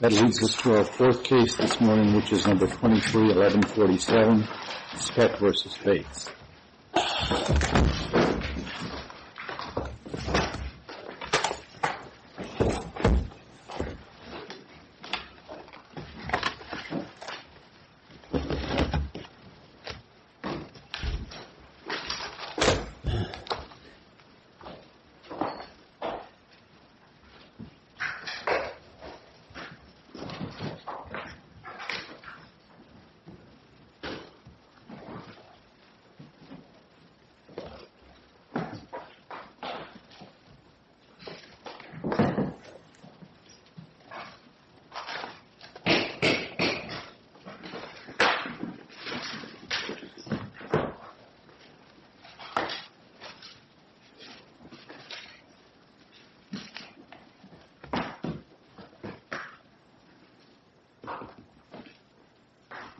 That leads us to our third case this morning, which is No. 23-11-47, Speck v. Bates.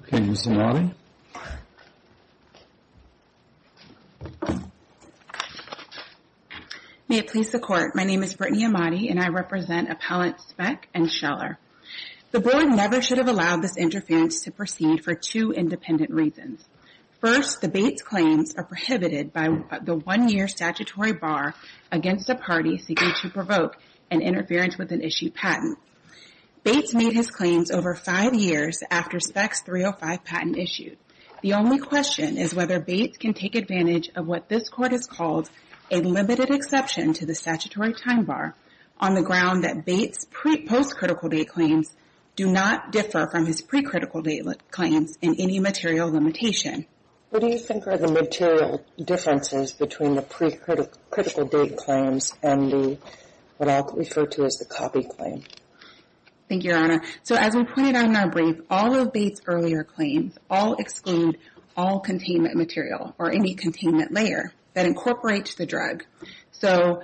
Okay, Ms. Amati. May it please the Court, my name is Brittany Amati and I represent Appellants Speck and Scheller. The Board never should have allowed this interference to proceed for two independent reasons. First, the Bates claims are prohibited by the one-year statutory bar against a party seeking to provoke an interference with an issued patent. Bates made his claims over five years after Speck's 305 patent issued. The only question is whether Bates can take advantage of what this Court has called a limited exception to the statutory time bar on the ground that Bates' post-critical date claims do not differ from his pre-critical date claims in any material limitation. What do you think are the material differences between the pre-critical date claims and what I'll refer to as the copy claim? Thank you, Your Honor. So as we pointed out in our brief, all of Bates' earlier claims all exclude all containment material or any containment layer that incorporates the drug. So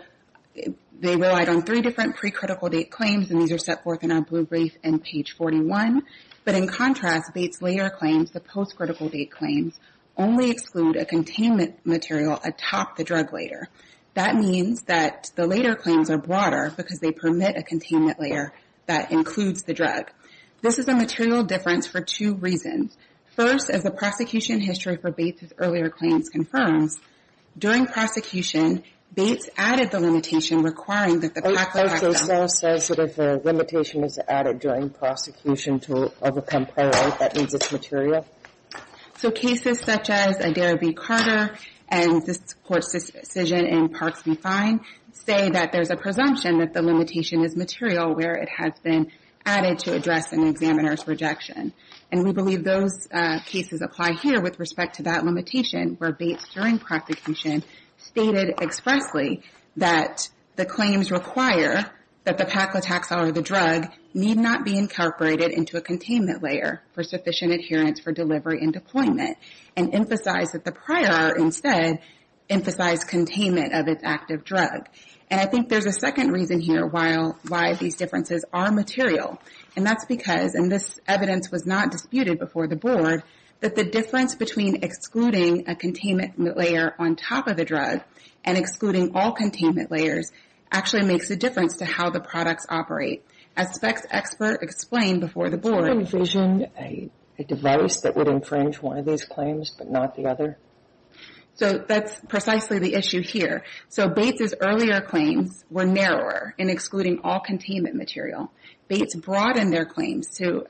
they relied on three different pre-critical date claims and these are set forth in our Bates' earlier claims only exclude a containment material atop the drug layer. That means that the later claims are broader because they permit a containment layer that includes the drug. This is a material difference for two reasons. First, as the prosecution history for Bates' earlier claims confirms, during prosecution, Bates added the limitation requiring that the copy claim act on it. And this also says that if a limitation is added during prosecution to overcome copyright, that means it's material? So cases such as Adair v. Carter and this Court's decision in Parks v. Fine say that there's a presumption that the limitation is material where it has been added to address an examiner's rejection. And we believe those cases apply here with respect to that limitation where Bates, during prosecution, stated expressly that the claims require that the Paclitaxel or the drug need not be incorporated into a containment layer for sufficient adherence for delivery and deployment. And emphasized that the prior, instead, emphasized containment of its active drug. And I think there's a second reason here why these differences are material. And that's because, and this evidence was not disputed before the Board, that the difference between excluding a containment layer on top of a drug and excluding all containment layers actually makes a difference to how the products operate. As Speck's expert explained before the Board. Could you envision a device that would infringe one of these claims but not the other? So that's precisely the issue here. So Bates' earlier claims were narrower in excluding all containment material. Bates broadened their claims to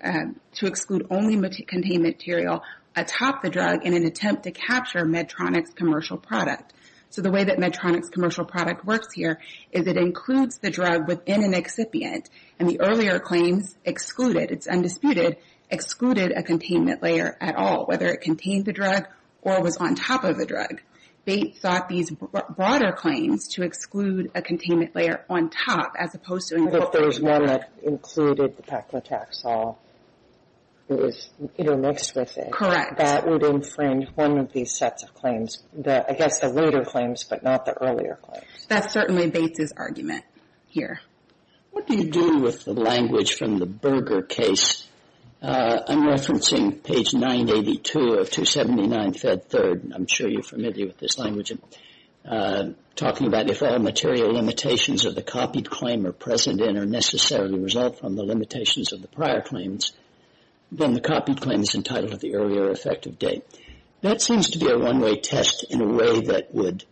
exclude only contained material atop the drug in an attempt to capture Medtronic's commercial product. So the way that Medtronic's commercial product works here is it includes the drug within an excipient. And the earlier claims excluded, it's undisputed, excluded a containment layer at all, whether it contained the drug or was on top of the drug. Bates thought these broader claims to exclude a containment layer on top as opposed to And if there was one that included the Paclitaxol, it was intermixed with it. Correct. That would infringe one of these sets of claims. I guess the later claims but not the earlier claims. That's certainly Bates' argument here. What do you do with the language from the Berger case? I'm referencing page 982 of 279, Fed 3rd. I'm sure you're familiar with this language. Talking about if all material limitations of the copied claim are present and are necessarily result from the limitations of the prior claims, then the copied claim is entitled to the earlier effective date. That seems to be a one-way test in a way that would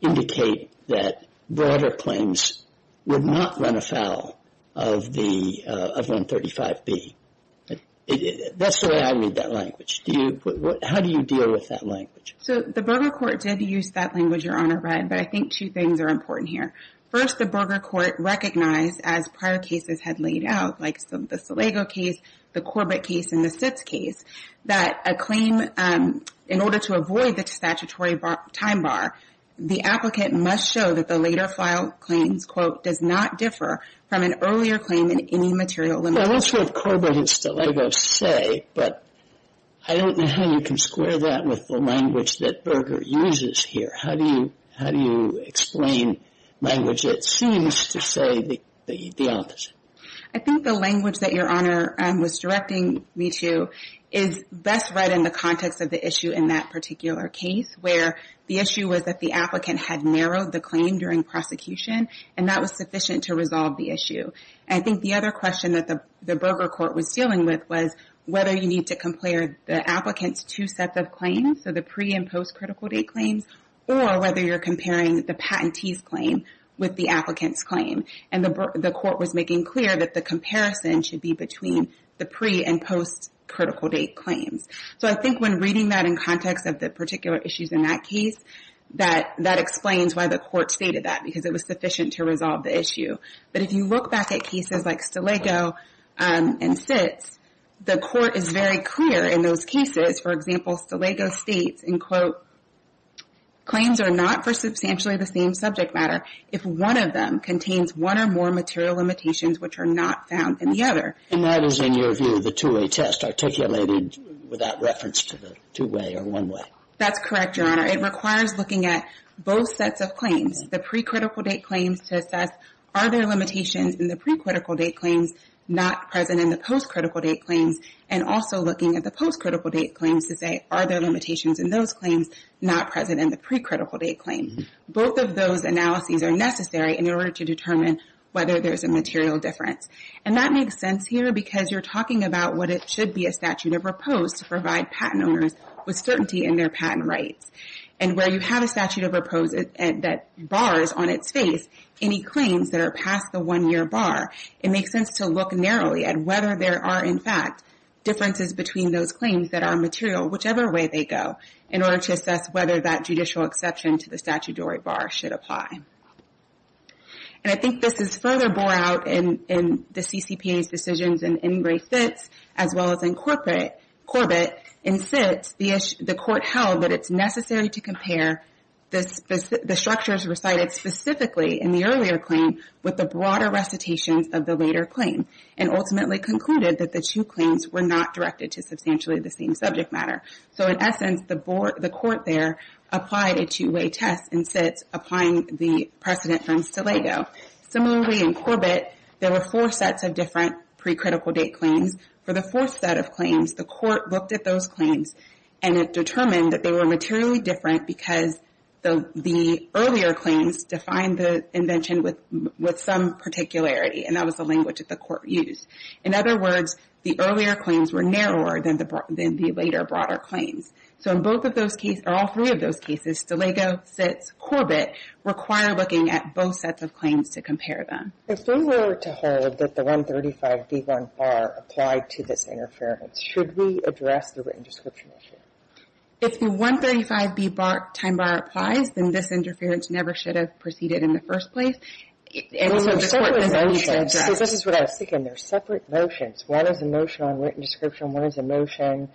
indicate that broader claims would not run afoul of 135B. That's the way I read that language. How do you deal with that language? The Berger court did use that language, Your Honor, but I think two things are important here. First, the Berger court recognized, as prior cases had laid out, like the Stilego case, the Corbett case, and the Sitz case, that a claim, in order to avoid the statutory time bar, the applicant must show that the later file claims, quote, does not differ from an earlier claim in any material limitation. That's what Corbett and Stilego say, but I don't know how you can square that with the language that Berger uses here. How do you explain language that seems to say the opposite? I think the language that Your Honor was directing me to is best read in the context of the issue in that particular case, where the issue was that the applicant had narrowed the claim during prosecution, and that was sufficient to resolve the issue. I think the other question that the Berger court was dealing with was whether you need to compare the applicant's two sets of claims, so the pre- and post-critical date claims, or whether you're comparing the patentee's claim with the applicant's claim. The court was making clear that the comparison should be between the pre- and post-critical date claims. I think when reading that in context of the particular issues in that case, that explains why the court stated that, because it was sufficient to resolve the issue. But if you look back at cases like Stilego and Sitz, the court is very clear in those cases. For example, Stilego states, and quote, claims are not for substantially the same subject matter if one of them contains one or more material limitations which are not found in the other. And that is, in your view, the two-way test articulated without reference to the two-way or one-way. That's correct, Your Honor. It requires looking at both sets of claims, the pre-critical date claims to assess, are there limitations in the pre-critical date claims not present in the post-critical date claims? And also looking at the post-critical date claims to say, are there limitations in those claims not present in the pre-critical date claim? Both of those analyses are necessary in order to determine whether there's a material difference. And that makes sense here because you're talking about what it should be a statute of propose to provide patent owners with certainty in their patent rights. And where you have a statute of propose that bars on its face any claims that are past the one-year bar, it makes sense to look narrowly at whether there are, in fact, differences between those claims that are material, whichever way they go, in order to assess whether that judicial exception to the statutory bar should apply. And I think this is further bore out in the CCPA's decisions in Ingray-Fitts as well as in Corbett. In Fitts, the court held that it's necessary to compare the structures recited specifically in the earlier claim with the broader recitations of the later claim, and ultimately concluded that the two claims were not directed to substantially the same subject matter. So in essence, the court there applied a two-way test in Fitts, applying the precedent from Stilego. Similarly, in Corbett, there were four sets of different pre-critical date claims. For the fourth set of claims, the court looked at those claims, and it determined that they were materially different because the earlier claims defined the invention with some particularity, and that was the language that the court used. In other words, the earlier claims were narrower than the later, broader claims. So in both of those cases, or all three of those cases, Stilego, Fitts, Corbett, require looking at both sets of claims to compare them. If we were to hold that the 135b1 bar applied to this interference, should we address the written description issue? If the 135b bar time bar applies, then this interference never should have proceeded in the first place. And so the court doesn't need to address it. So this is what I was thinking. They're separate motions. One is a motion on written description, one is a motion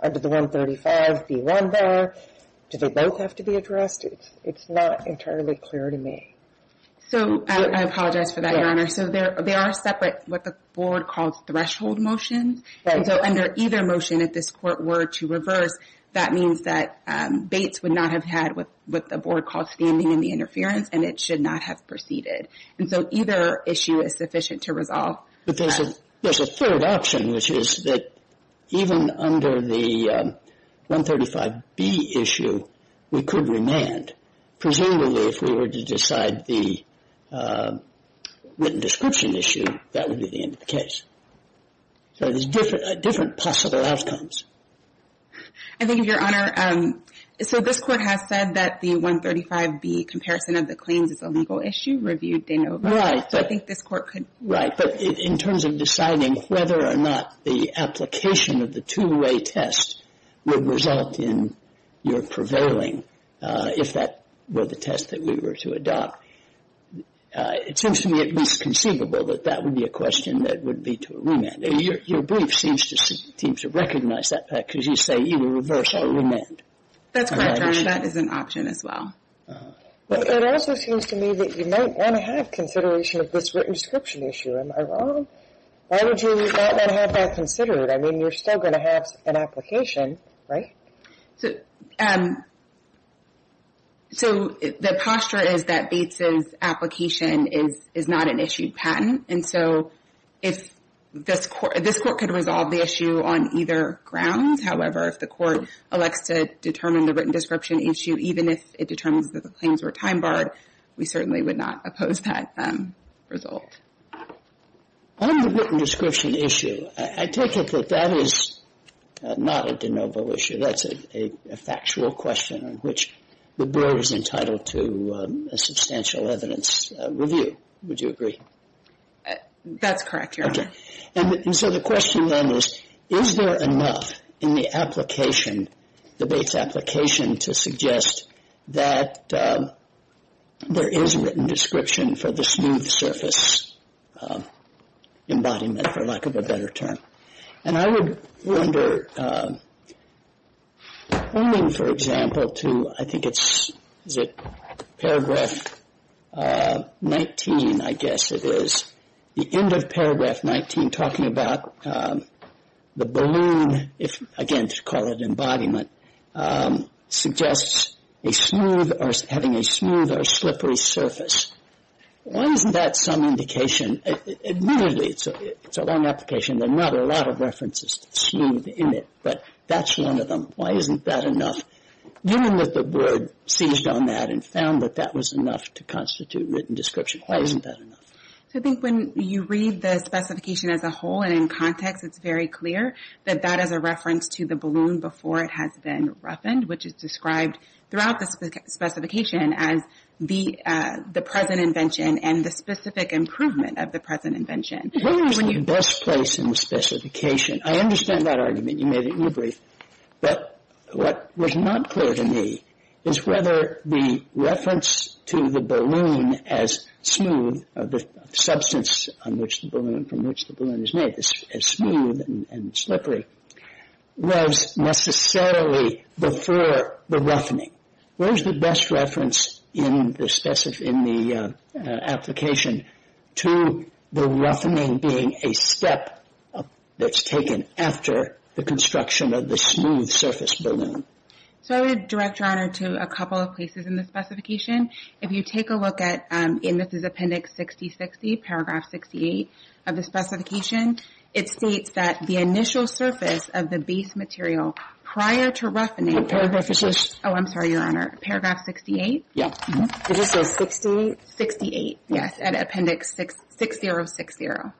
under the 135b1 bar. Do they both have to be addressed? It's not entirely clear to me. So I apologize for that, Your Honor. So they are separate, what the board calls threshold motions. And so under either motion, if this court were to reverse, that means that Bates would not have had what the board called standing in the interference, and it should not have proceeded. And so either issue is sufficient to resolve. But there's a third option, which is that even under the 135b issue, we could remand, presumably if we were to decide the written description issue, that would be the end of the case. So there's different possible outcomes. I think, Your Honor, so this court has said that the 135b comparison of the claims is a legal issue, reviewed Danova. Right. So I think this court could. Right. But in terms of deciding whether or not the application of the two-way test would result in your prevailing, if that were the test that we were to adopt, it seems to me at least conceivable that that would be a question that would lead to a remand. Your brief seems to recognize that because you say you will reverse or remand. That's correct, Your Honor. That is an option as well. It also seems to me that you might want to have consideration of this written description issue. Am I wrong? Why would you not want to have that considered? I mean, you're still going to have an application, right? So the posture is that Bates's application is not an issued patent. And so if this court could resolve the issue on either grounds, however, if the court elects to determine the written description issue, even if it determines that the claims were time barred, we certainly would not oppose that result. On the written description issue, I take it that that is not a Danova issue. That's a factual question on which the board is entitled to a substantial evidence review. Would you agree? That's correct, Your Honor. Okay. And so the question then is, is there enough in the application, the Bates application, to suggest that there is a written description for the smooth surface embodiment, for lack of a better term? And I would wonder, owing, for example, to I think it's, is it paragraph 19, I guess it is, the end of paragraph 19 talking about the balloon, again, to call it embodiment, suggests a smooth or having a smooth or slippery surface. Why isn't that some indication? Admittedly, it's a long application. There are not a lot of references to smooth in it, but that's one of them. Why isn't that enough? Given that the board seized on that and found that that was enough to constitute written description, why isn't that enough? I think when you read the specification as a whole and in context, it's very clear that that is a reference to the balloon before it has been roughened, which is described throughout the specification as the present invention and the specific improvement of the present invention. Where is the best place in the specification? I understand that argument. You made it in your brief. But what was not clear to me is whether the reference to the balloon as smooth, the substance on which the balloon, from which the balloon is made, is smooth and slippery, was necessarily before the roughening. Where is the best reference in the application to the roughening being a step that's taken after the construction of the smooth surface balloon? I would direct your honor to a couple of places in the specification. If you take a look at, and this is Appendix 6060, Paragraph 68 of the specification, it states that the initial surface of the base material prior to roughening... Paragraph 68. Oh, I'm sorry, your honor. Paragraph 68? Yeah. It is so. 68? 68, yes, at Appendix 6060.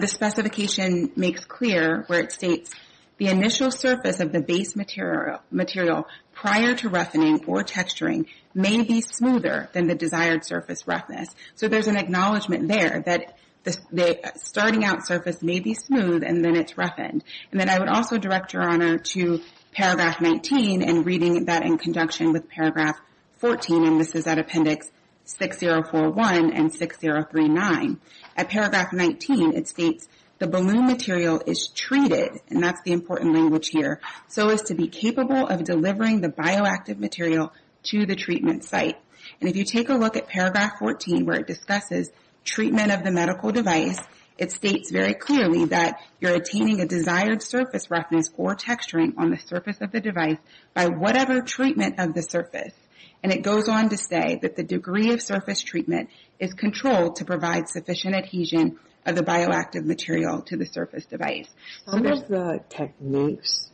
The specification makes clear where it states, the initial surface of the base material prior to roughening or texturing may be smoother than the desired surface roughness. So there's an acknowledgement there that the starting out surface may be smooth and then it's roughened. And then I would also direct your honor to Paragraph 19 and reading that in conjunction with Paragraph 14, and this is at Appendix 6041 and 6039. At Paragraph 19, it states the balloon material is treated, and that's the important language here, so as to be capable of delivering the bioactive material to the treatment site. And if you take a look at Paragraph 14 where it discusses treatment of the medical device, it states very clearly that you're attaining a desired surface roughness or texturing on the surface of the device by whatever treatment of the surface. And it goes on to say that the degree of surface treatment is controlled to provide sufficient adhesion of the bioactive material to the surface device. One of the techniques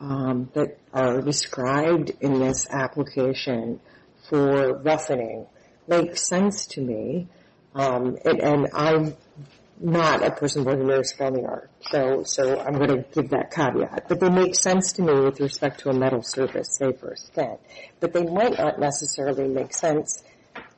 that are described in this application for roughening makes sense to me, and I'm not a person with a nervous feminor, so I'm going to give that caveat, but they make sense to me with respect to a metal surface, say, for a stand. But they might not necessarily make sense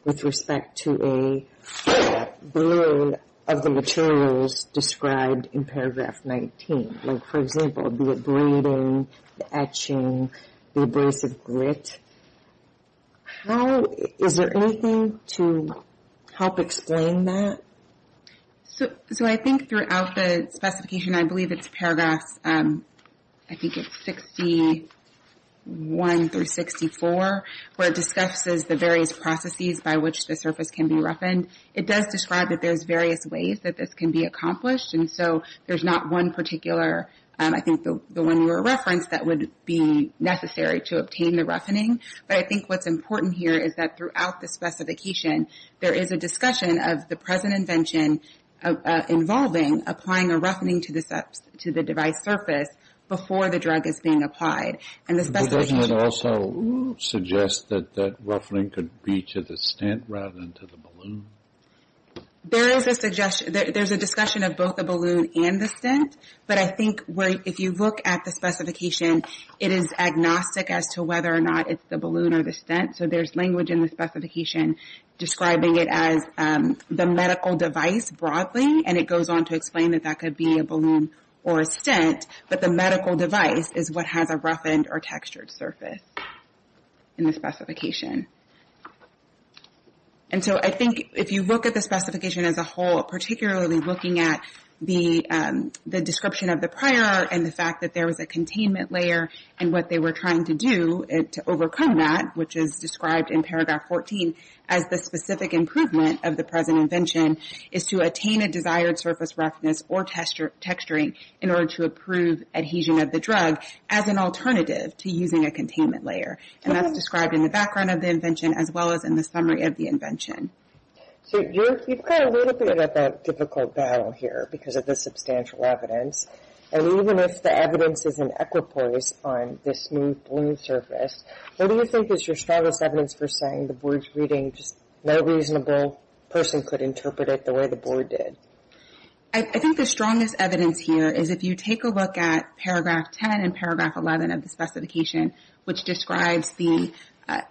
with respect to a balloon of the materials described in Paragraph 19. Like, for example, the abrading, the etching, the abrasive grit. Is there anything to help explain that? So I think throughout the specification, I believe it's Paragraphs, I think it's 61 through 64, where it discusses the various processes by which the surface can be roughened. It does describe that there's various ways that this can be accomplished, and so there's not one particular, I think the one you referenced, that would be necessary to obtain the roughening. But I think what's important here is that throughout the specification, there is a discussion of the present invention involving applying a roughening to the device surface before the drug is being applied. But doesn't it also suggest that that roughening could be to the stent rather than to the balloon? There is a discussion of both the balloon and the stent, but I think if you look at the specification, it is agnostic as to whether or not it's the balloon or the stent. So there's language in the specification describing it as the medical device broadly, and it goes on to explain that that could be a balloon or a stent, but the medical device is what has a roughened or textured surface in the specification. And so I think if you look at the specification as a whole, particularly looking at the description of the prior and the fact that there was a containment layer and what they were trying to do to overcome that, which is described in paragraph 14 as the specific improvement of the present invention, is to attain a desired surface roughness or texturing in order to approve adhesion of the drug as an alternative to using a containment layer. And that's described in the background of the invention as well as in the summary of the invention. So you've got a little bit of a difficult battle here because of the substantial evidence. And even if the evidence is an equipoise on this new balloon surface, what do you think is your strongest evidence for saying the board's reading, just no reasonable person could interpret it the way the board did? I think the strongest evidence here is if you take a look at paragraph 10 and paragraph 11 of the specification, which describes the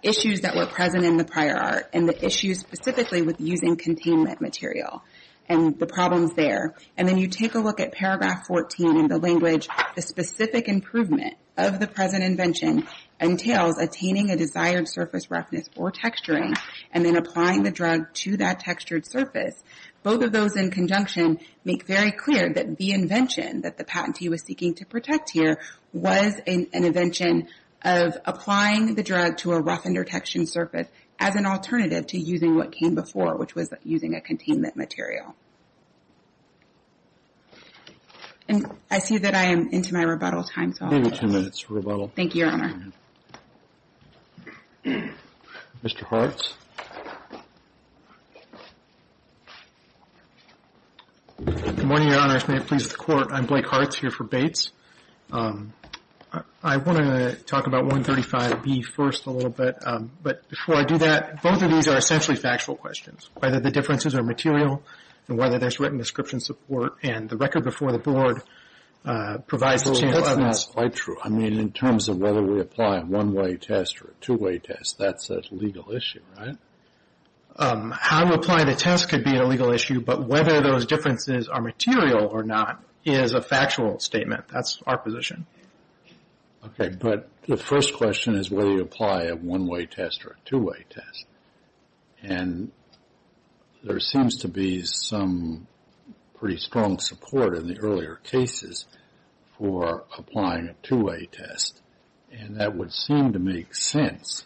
issues that were present in the prior art and the issues specifically with using containment material and the problems there. And then you take a look at paragraph 14 in the language, the specific improvement of the present invention entails attaining a desired surface roughness or texturing and then applying the drug to that textured surface. Both of those in conjunction make very clear that the invention that the patentee was seeking to protect here was an invention of applying the drug to a roughened or textured surface as an alternative to using what came before, which was using a containment material. And I see that I am into my rebuttal time. Maybe two minutes for rebuttal. Thank you, Your Honor. Mr. Hartz. Good morning, Your Honor. If it pleases the Court, I'm Blake Hartz here for Bates. I want to talk about 135B first a little bit. But before I do that, both of these are essentially factual questions, whether the differences are material and whether there's written description support. And the record before the Board provides a chance. That's not quite true. I mean, in terms of whether we apply a one-way test or a two-way test, that's a legal issue, right? How you apply the test could be a legal issue, but whether those differences are material or not is a factual statement. That's our position. Okay. But the first question is whether you apply a one-way test or a two-way test. And there seems to be some pretty strong support in the earlier cases for applying a two-way test. And that would seem to make sense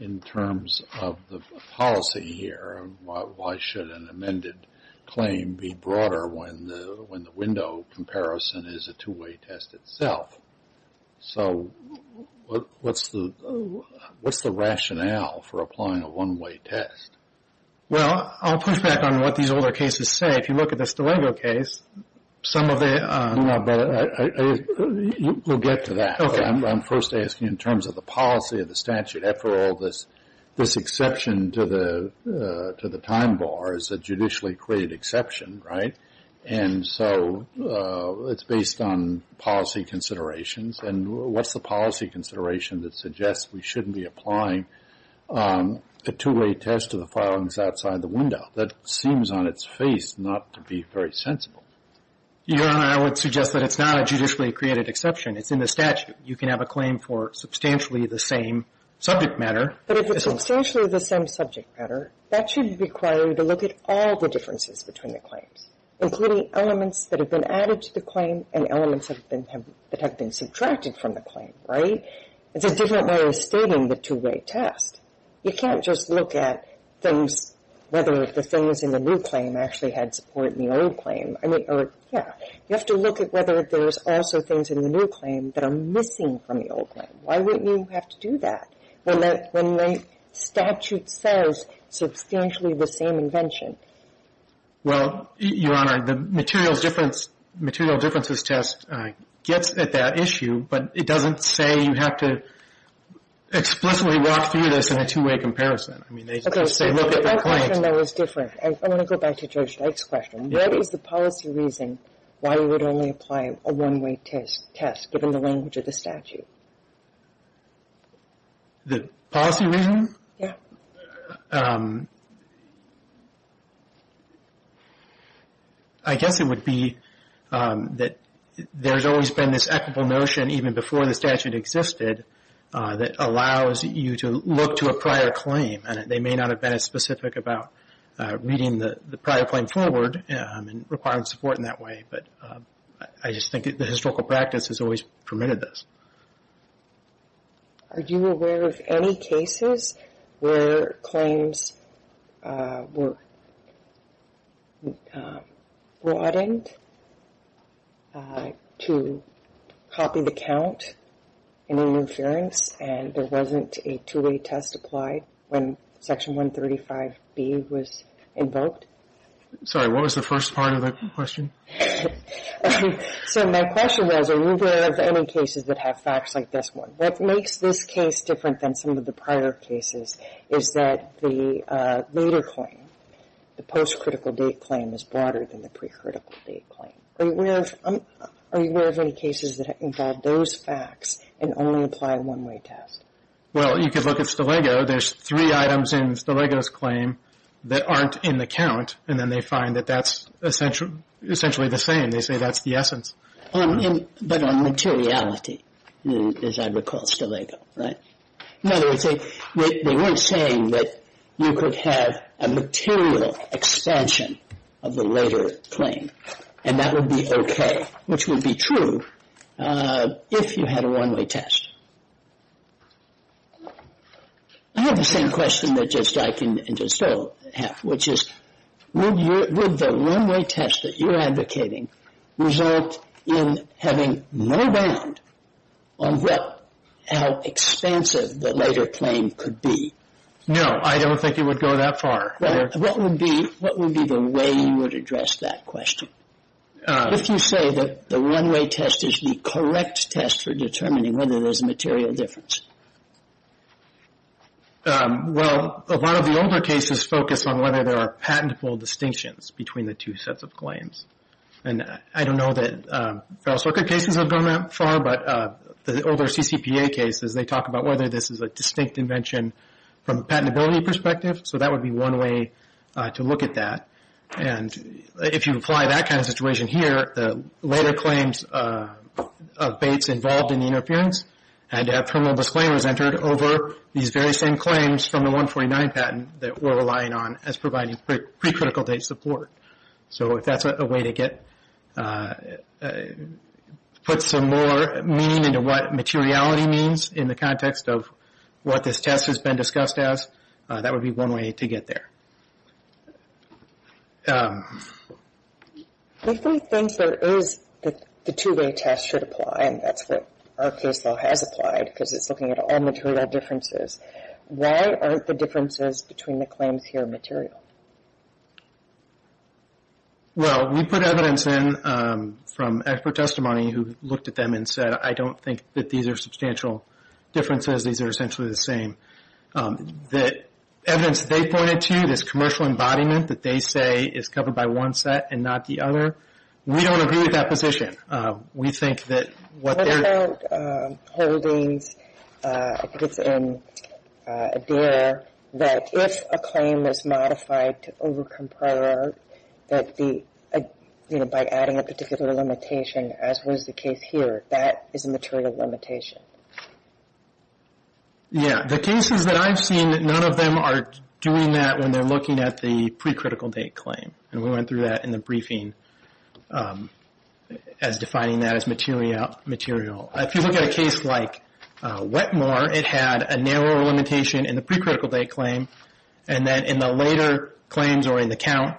in terms of the policy here. Why should an amended claim be broader when the window comparison is a two-way test itself? So what's the rationale for applying a one-way test? Well, I'll push back on what these older cases say. If you look at the Stillego case, some of the... No, but we'll get to that. I'm first asking in terms of the policy of the statute. After all, this exception to the time bar is a judicially created exception, right? And so it's based on policy considerations. And what's the policy consideration that suggests we shouldn't be applying a two-way test to the filings outside the window? That seems on its face not to be very sensible. Your Honor, I would suggest that it's not a judicially created exception. It's in the statute. You can have a claim for substantially the same subject matter. But if it's substantially the same subject matter, that should require you to look at all the differences between the claims, including elements that have been added to the claim and elements that have been subtracted from the claim, right? It's a different way of stating the two-way test. You can't just look at things, whether the things in the new claim actually had support in the old claim. I mean, yeah. You have to look at whether there's also things in the new claim that are missing from the old claim. Why would you have to do that when the statute says substantially the same invention? Well, Your Honor, the materials difference, material differences test gets at that issue. But it doesn't say you have to explicitly walk through this in a two-way comparison. I mean, they just say look at the claim. Okay. So that question there was different. I want to go back to Judge Dyke's question. What is the policy reason why we would only apply a one-way test, given the language of the statute? The policy reason? Yeah. I guess it would be that there's always been this equitable notion, even before the statute existed, that allows you to look to a prior claim. And they may not have been as specific about reading the prior claim forward and requiring support in that way. But I just think the historical practice has always permitted this. Are you aware of any cases where claims were broadened to copy the count in an inference and there wasn't a two-way test applied when Section 135B was invoked? Sorry. What was the first part of that question? So my question was are you aware of any cases that have facts like this one? What makes this case different than some of the prior cases is that the later claim, the post-critical date claim, is broader than the pre-critical date claim. Are you aware of any cases that involve those facts and only apply a one-way test? Well, you could look at Stilego. There's three items in Stilego's claim that aren't in the count, and then they find that that's essentially the same. They say that's the essence. But on materiality, as I recall, Stilego, right? In other words, they weren't saying that you could have a material expansion of the later claim. And that would be okay, which would be true if you had a one-way test. I have the same question that I can just have, which is would the one-way test that you're advocating result in having no bound on how expansive the later claim could be? No, I don't think it would go that far. What would be the way you would address that question? If you say that the one-way test is the correct test for determining whether there's a material difference? Well, a lot of the older cases focus on whether there are patentable distinctions between the two sets of claims. And I don't know that Feral Circuit cases have gone that far, but the older CCPA cases, they talk about whether this is a distinct invention from a patentability perspective. So that would be one way to look at that. And if you apply that kind of situation here, the later claims of Bates involved in the interference had terminal disclaimers entered over these very same claims from the 149 patent that we're relying on as providing precritical date support. So if that's a way to put some more meaning into what materiality means in the context of what this test has been discussed as, that would be one way to get there. If we think there is the two-way test should apply, and that's what our case law has applied, because it's looking at all material differences, why aren't the differences between the claims here material? Well, we put evidence in from expert testimony who looked at them and said, I don't think that these are substantial differences. These are essentially the same. The evidence they pointed to, this commercial embodiment that they say is covered by one set and not the other, we don't agree with that position. We think that what they're... What about holdings, I think it's in Adair, that if a claim is modified to overcome prior art, that by adding a particular limitation, as was the case here, that is a material limitation. Yeah, the cases that I've seen, none of them are doing that when they're looking at the pre-critical date claim. And we went through that in the briefing as defining that as material. If you look at a case like Wetmore, it had a narrow limitation in the pre-critical date claim, and then in the later claims or in the count,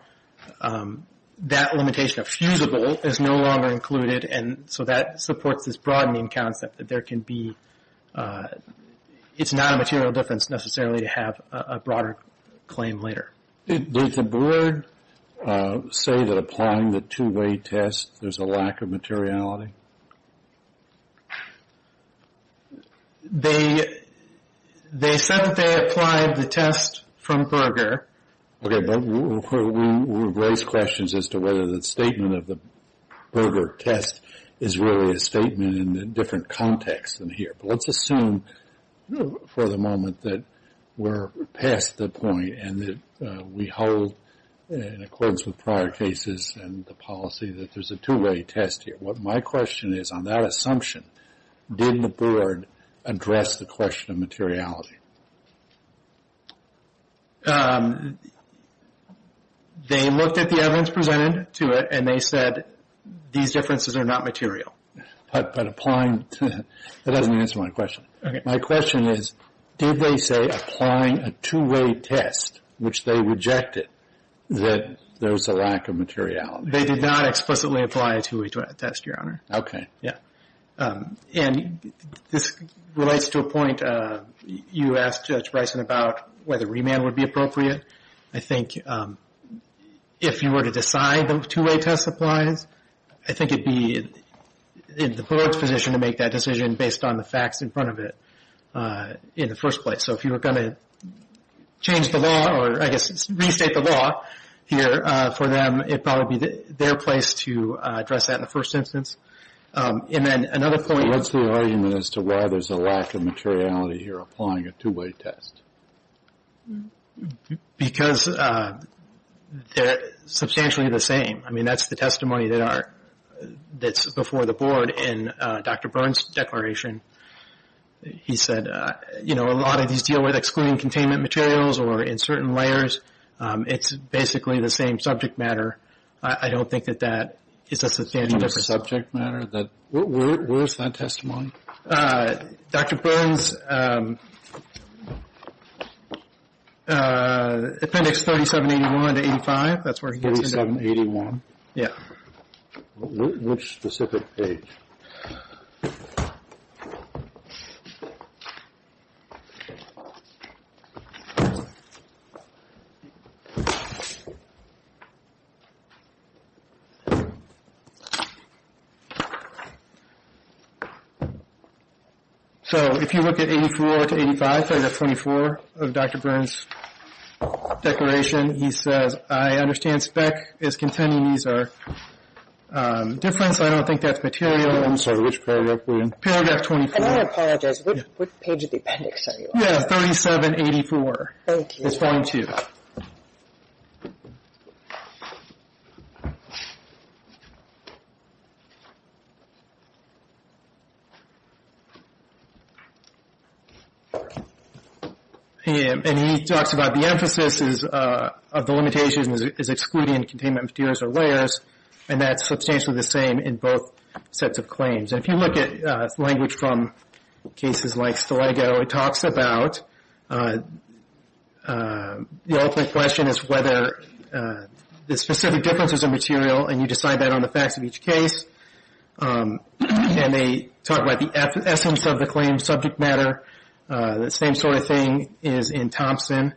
that limitation of fusible is no longer included, and so that supports this broadening concept that there can be... It's not a material difference necessarily to have a broader claim later. Did the board say that applying the two-way test, there's a lack of materiality? They said that they applied the test from Berger. Okay, but we've raised questions as to whether the statement of the Berger test is really a statement in a different context than here. But let's assume for the moment that we're past the point and that we hold, in accordance with prior cases and the policy, that there's a two-way test here. My question is, on that assumption, did the board address the question of materiality? They looked at the evidence presented to it, and they said these differences are not material. But applying... That doesn't answer my question. Okay. My question is, did they say applying a two-way test, which they rejected, that there's a lack of materiality? They did not explicitly apply a two-way test, Your Honor. Okay. Yeah. And this relates to a point you asked Judge Bryson about whether remand would be appropriate. I think if you were to decide the two-way test applies, I think it would be in the board's position to make that decision based on the facts in front of it in the first place. So if you were going to change the law or, I guess, restate the law here for them, it would probably be their place to address that in the first instance. And then another point... What's the argument as to why there's a lack of materiality here applying a two-way test? Because they're substantially the same. I mean, that's the testimony that's before the board in Dr. Burns' declaration. He said, you know, a lot of these deal with excluding containment materials or in certain layers. It's basically the same subject matter. I don't think that that is a substantial difference. The same subject matter? Where is that testimony? Dr. Burns, Appendix 3781 to 85. That's where he gets into it. 3781? Yeah. Which specific page? So if you look at 84 to 85, so you have 24 of Dr. Burns' declaration, he says, I understand SPEC is contending these are different, so I don't think that's material. I'm sorry. Which paragraph were you on? Paragraph 24. And I apologize. What page of the appendix are you on? Yeah, 3784. Thank you. It's 42. Thank you. And he talks about the emphasis of the limitations is excluding containment materials or layers, and that's substantially the same in both sets of claims. And if you look at language from cases like Stilego, it talks about the ultimate question is whether the specific difference is a material, and you decide that on the facts of each case. And they talk about the essence of the claim, subject matter. The same sort of thing is in Thompson,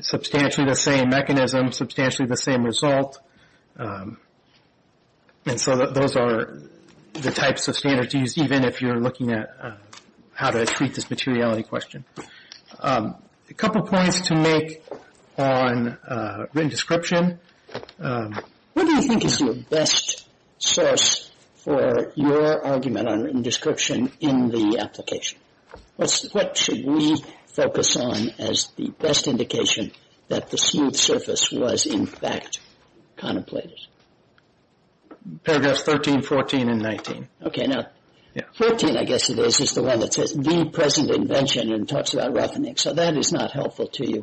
substantially the same mechanism, substantially the same result. And so those are the types of standards used, even if you're looking at how to treat this materiality question. A couple points to make on written description. What do you think is your best source for your argument on written description in the application? What should we focus on as the best indication that the smooth surface was, in fact, contemplated? Paragraphs 13, 14, and 19. Okay. Now, 14, I guess it is, is the one that says the present invention and talks about roughening. So that is not helpful to you.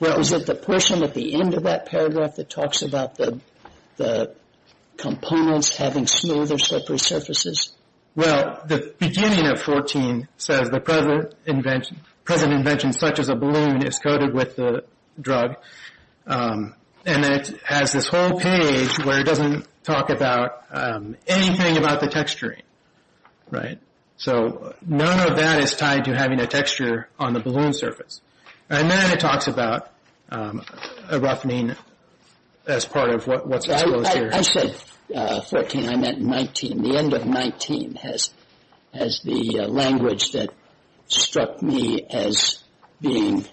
Was it the person at the end of that paragraph that talks about the components having smoother, slippery surfaces? Well, the beginning of 14 says the present invention, such as a balloon, is coated with the drug. And it has this whole page where it doesn't talk about anything about the texturing. Right? So none of that is tied to having a texture on the balloon surface. And then it talks about a roughening as part of what's exposed here. I said 14. I meant 19. The end of 19 has the language that struck me as being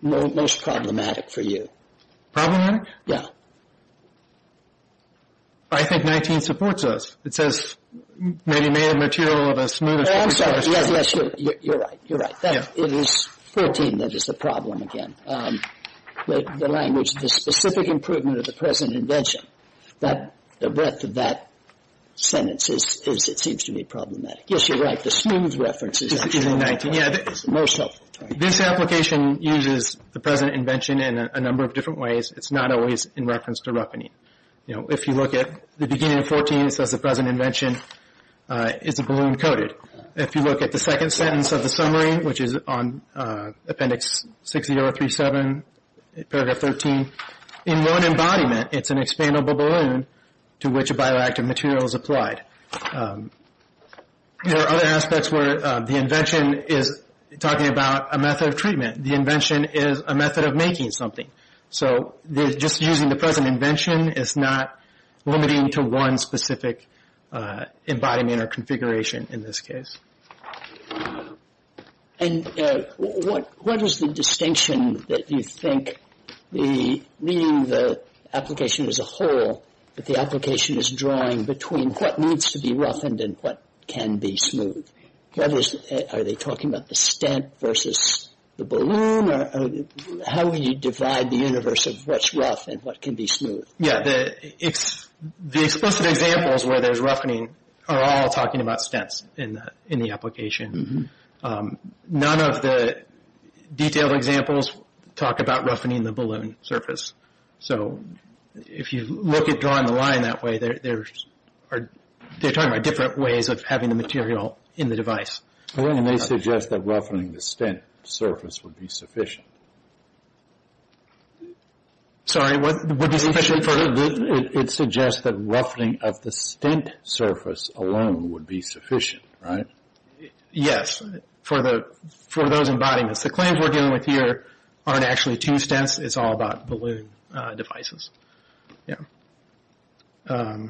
most problematic for you. Problematic? Yeah. I think 19 supports us. It says maybe made of material of a smoother surface. Oh, I'm sorry. Yes, yes, you're right. You're right. It is 14 that is the problem again. The language, the specific improvement of the present invention, the breadth of that sentence, it seems to be problematic. Yes, you're right. The smooth reference is the most helpful. This application uses the present invention in a number of different ways. It's not always in reference to roughening. You know, if you look at the beginning of 14, it says the present invention is a balloon coated. If you look at the second sentence of the summary, which is on Appendix 60.037, Paragraph 13, in one embodiment it's an expandable balloon to which a bioactive material is applied. There are other aspects where the invention is talking about a method of treatment. The invention is a method of making something. So just using the present invention is not limiting to one specific embodiment or configuration in this case. And what is the distinction that you think, meaning the application as a whole, that the application is drawing between what needs to be roughened and what can be smoothed? Are they talking about the stent versus the balloon? How would you divide the universe of what's rough and what can be smooth? Yes, the explicit examples where there's roughening are all talking about stents in the application. None of the detailed examples talk about roughening the balloon surface. So if you look at drawing the line that way, they're talking about different ways of having the material in the device. And they suggest that roughening the stent surface would be sufficient. Sorry, would be sufficient for the balloon? It suggests that roughening of the stent surface alone would be sufficient, right? Yes, for those embodiments. The claims we're dealing with here aren't actually two stents. It's all about balloon devices. And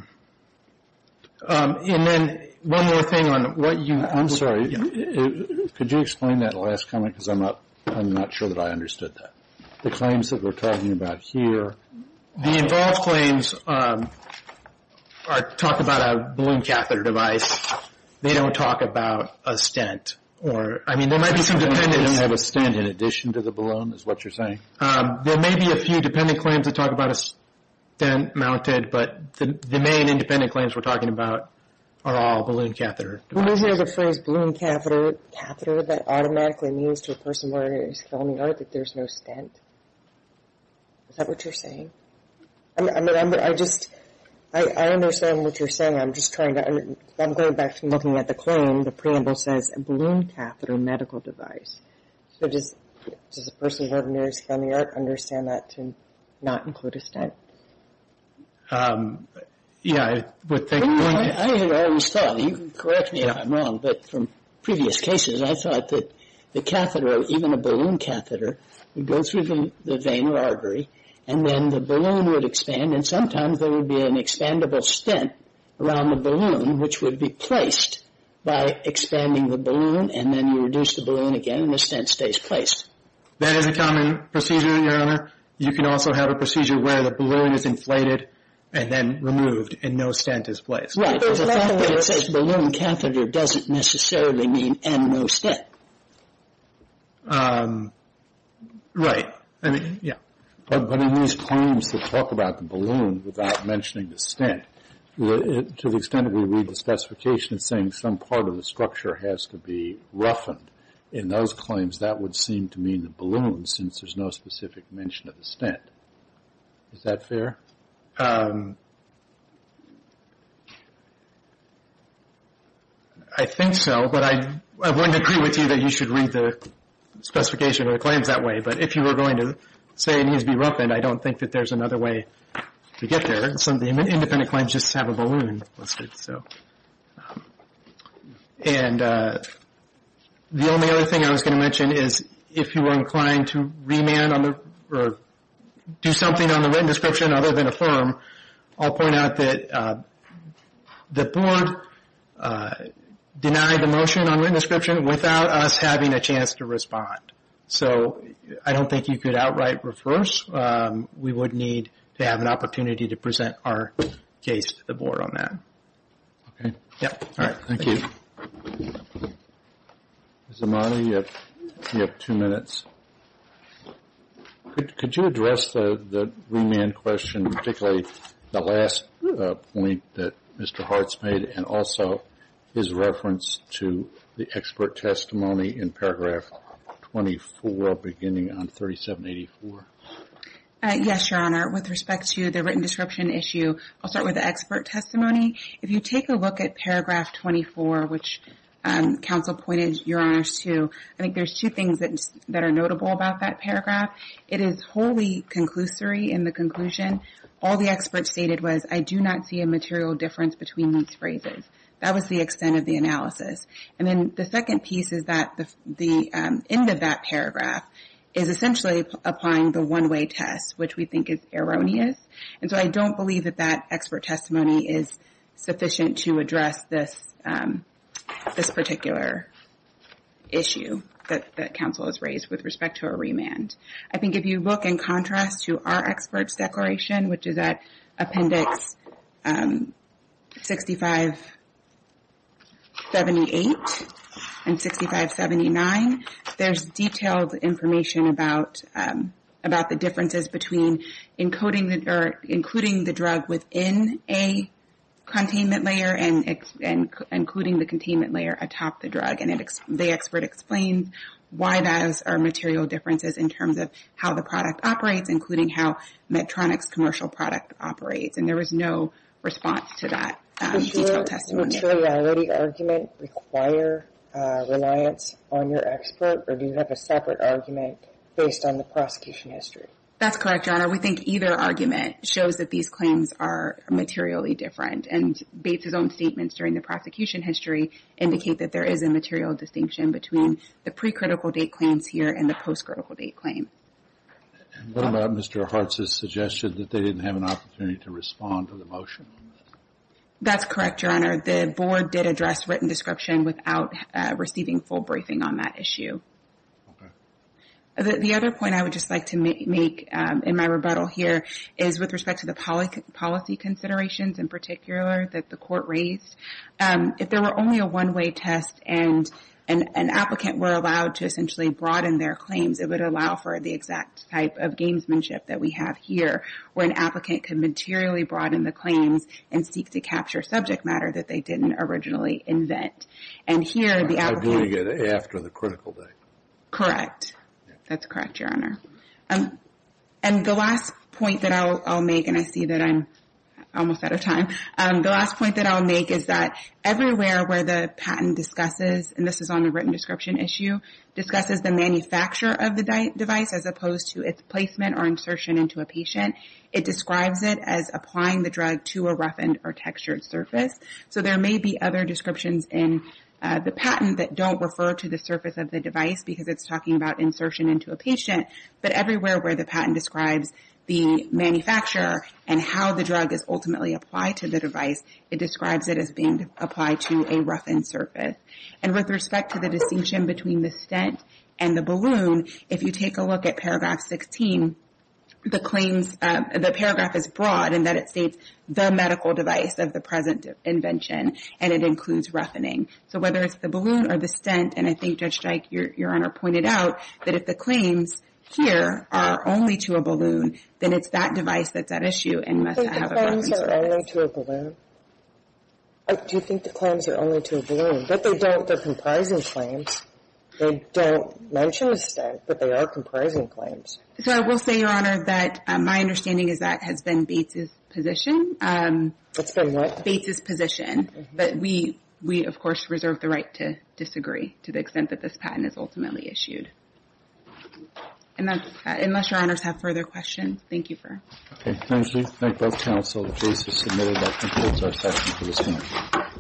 then one more thing on what you... I'm sorry, could you explain that last comment? Because I'm not sure that I understood that. The claims that we're talking about here... The involved claims talk about a balloon catheter device. They don't talk about a stent. They don't have a stent in addition to the balloon, is what you're saying? There may be a few dependent claims that talk about a stent mounted, but the main independent claims we're talking about are all balloon catheter devices. Isn't there a phrase, balloon catheter, that automatically means to a person who is filming art that there's no stent? Is that what you're saying? I understand what you're saying. I'm going back to looking at the claim. The preamble says balloon catheter medical device. So does a person who is filming art understand that to not include a stent? Yeah, I would think... I always thought, and you can correct me if I'm wrong, but from previous cases I thought that the catheter or even a balloon catheter would go through the vein or artery and then the balloon would expand and sometimes there would be an expandable stent around the balloon which would be placed by expanding the balloon and then you reduce the balloon again and the stent stays placed. That is a common procedure, Your Honor. You can also have a procedure where the balloon is inflated and then removed and no stent is placed. Right, but the fact that it says balloon catheter doesn't necessarily mean and no stent. Right. But in these claims that talk about the balloon without mentioning the stent, to the extent that we read the specification saying some part of the structure has to be roughened in those claims, that would seem to mean the balloon since there's no specific mention of the stent. Is that fair? I think so, but I wouldn't agree with you that you should read the specification of the claims that way. But if you were going to say it needs to be roughened, I don't think that there's another way to get there. Some of the independent claims just have a balloon listed. The only other thing I was going to mention is if you were inclined to remand or do something on the written description other than affirm, I'll point out that the board denied the motion on written description without us having a chance to respond. So I don't think you could outright reverse. We would need to have an opportunity to present our case to the board on that. Thank you. Ms. Imani, you have two minutes. Could you address the remand question, particularly the last point that Mr. Hartz made and also his reference to the expert testimony in Paragraph 24 beginning on 3784? Yes, Your Honor. With respect to the written description issue, I'll start with the expert testimony. If you take a look at Paragraph 24, which counsel pointed Your Honors to, I think there's two things that are notable about that paragraph. It is wholly conclusory in the conclusion. All the experts stated was, I do not see a material difference between these phrases. That was the extent of the analysis. And then the second piece is that the end of that paragraph is essentially applying the one-way test, which we think is erroneous. And so I don't believe that that expert testimony is sufficient to address this particular issue that counsel has raised with respect to a remand. I think if you look in contrast to our expert's declaration, which is at Appendix 6578 and 6579, there's detailed information about the differences between including the drug within a containment layer and including the containment layer atop the drug. And the expert explains why those are material differences in terms of how the product operates, including how Medtronic's commercial product operates. And there was no response to that detailed testimony. Does your materiality argument require reliance on your expert, or do you have a separate argument based on the prosecution history? That's correct, Your Honor. We think either argument shows that these claims are materially different. And Bates' own statements during the prosecution history indicate that there is a material distinction between the pre-critical date claims here and the post-critical date claim. What about Mr. Hartz's suggestion that they didn't have an opportunity to respond to the motion? That's correct, Your Honor. The Board did address written description without receiving full briefing on that issue. Okay. The other point I would just like to make in my rebuttal here is with respect to the policy considerations, in particular, that the Court raised, if there were only a one-way test and an applicant were allowed to essentially broaden their claims, it would allow for the exact type of gamesmanship that we have here, where an applicant can materially broaden the claims and seek to capture subject matter that they didn't originally invent. And here, the applicant… By doing it after the critical date. Correct. That's correct, Your Honor. And the last point that I'll make, and I see that I'm almost out of time, the last point that I'll make is that everywhere where the patent discusses, and this is on the written description issue, discusses the manufacture of the device as opposed to its placement or insertion into a patient, it describes it as applying the drug to a roughened or textured surface. So there may be other descriptions in the patent that don't refer to the surface of the device because it's talking about insertion into a patient, but everywhere where the patent describes the manufacturer and how the drug is ultimately applied to the device, it describes it as being applied to a roughened surface. And with respect to the distinction between the stent and the balloon, if you take a look at paragraph 16, the paragraph is broad in that it states the medical device of the present invention, and it includes roughening. So whether it's the balloon or the stent, and I think Judge Streich, Your Honor, pointed out that if the claims here are only to a balloon, then it's that device that's at issue and must have a roughened surface. Do you think the claims are only to a balloon? Do you think the claims are only to a balloon? But they don't, they're comprising claims. They don't mention a stent, but they are comprising claims. So I will say, Your Honor, that my understanding is that has been Bates's position. It's been what? Bates's position. But we, of course, reserve the right to disagree to the extent that this patent is ultimately issued. And that's that. Unless Your Honors have further questions, thank you. Okay. Members, we thank both counsel. The case is submitted. That concludes our session for this morning.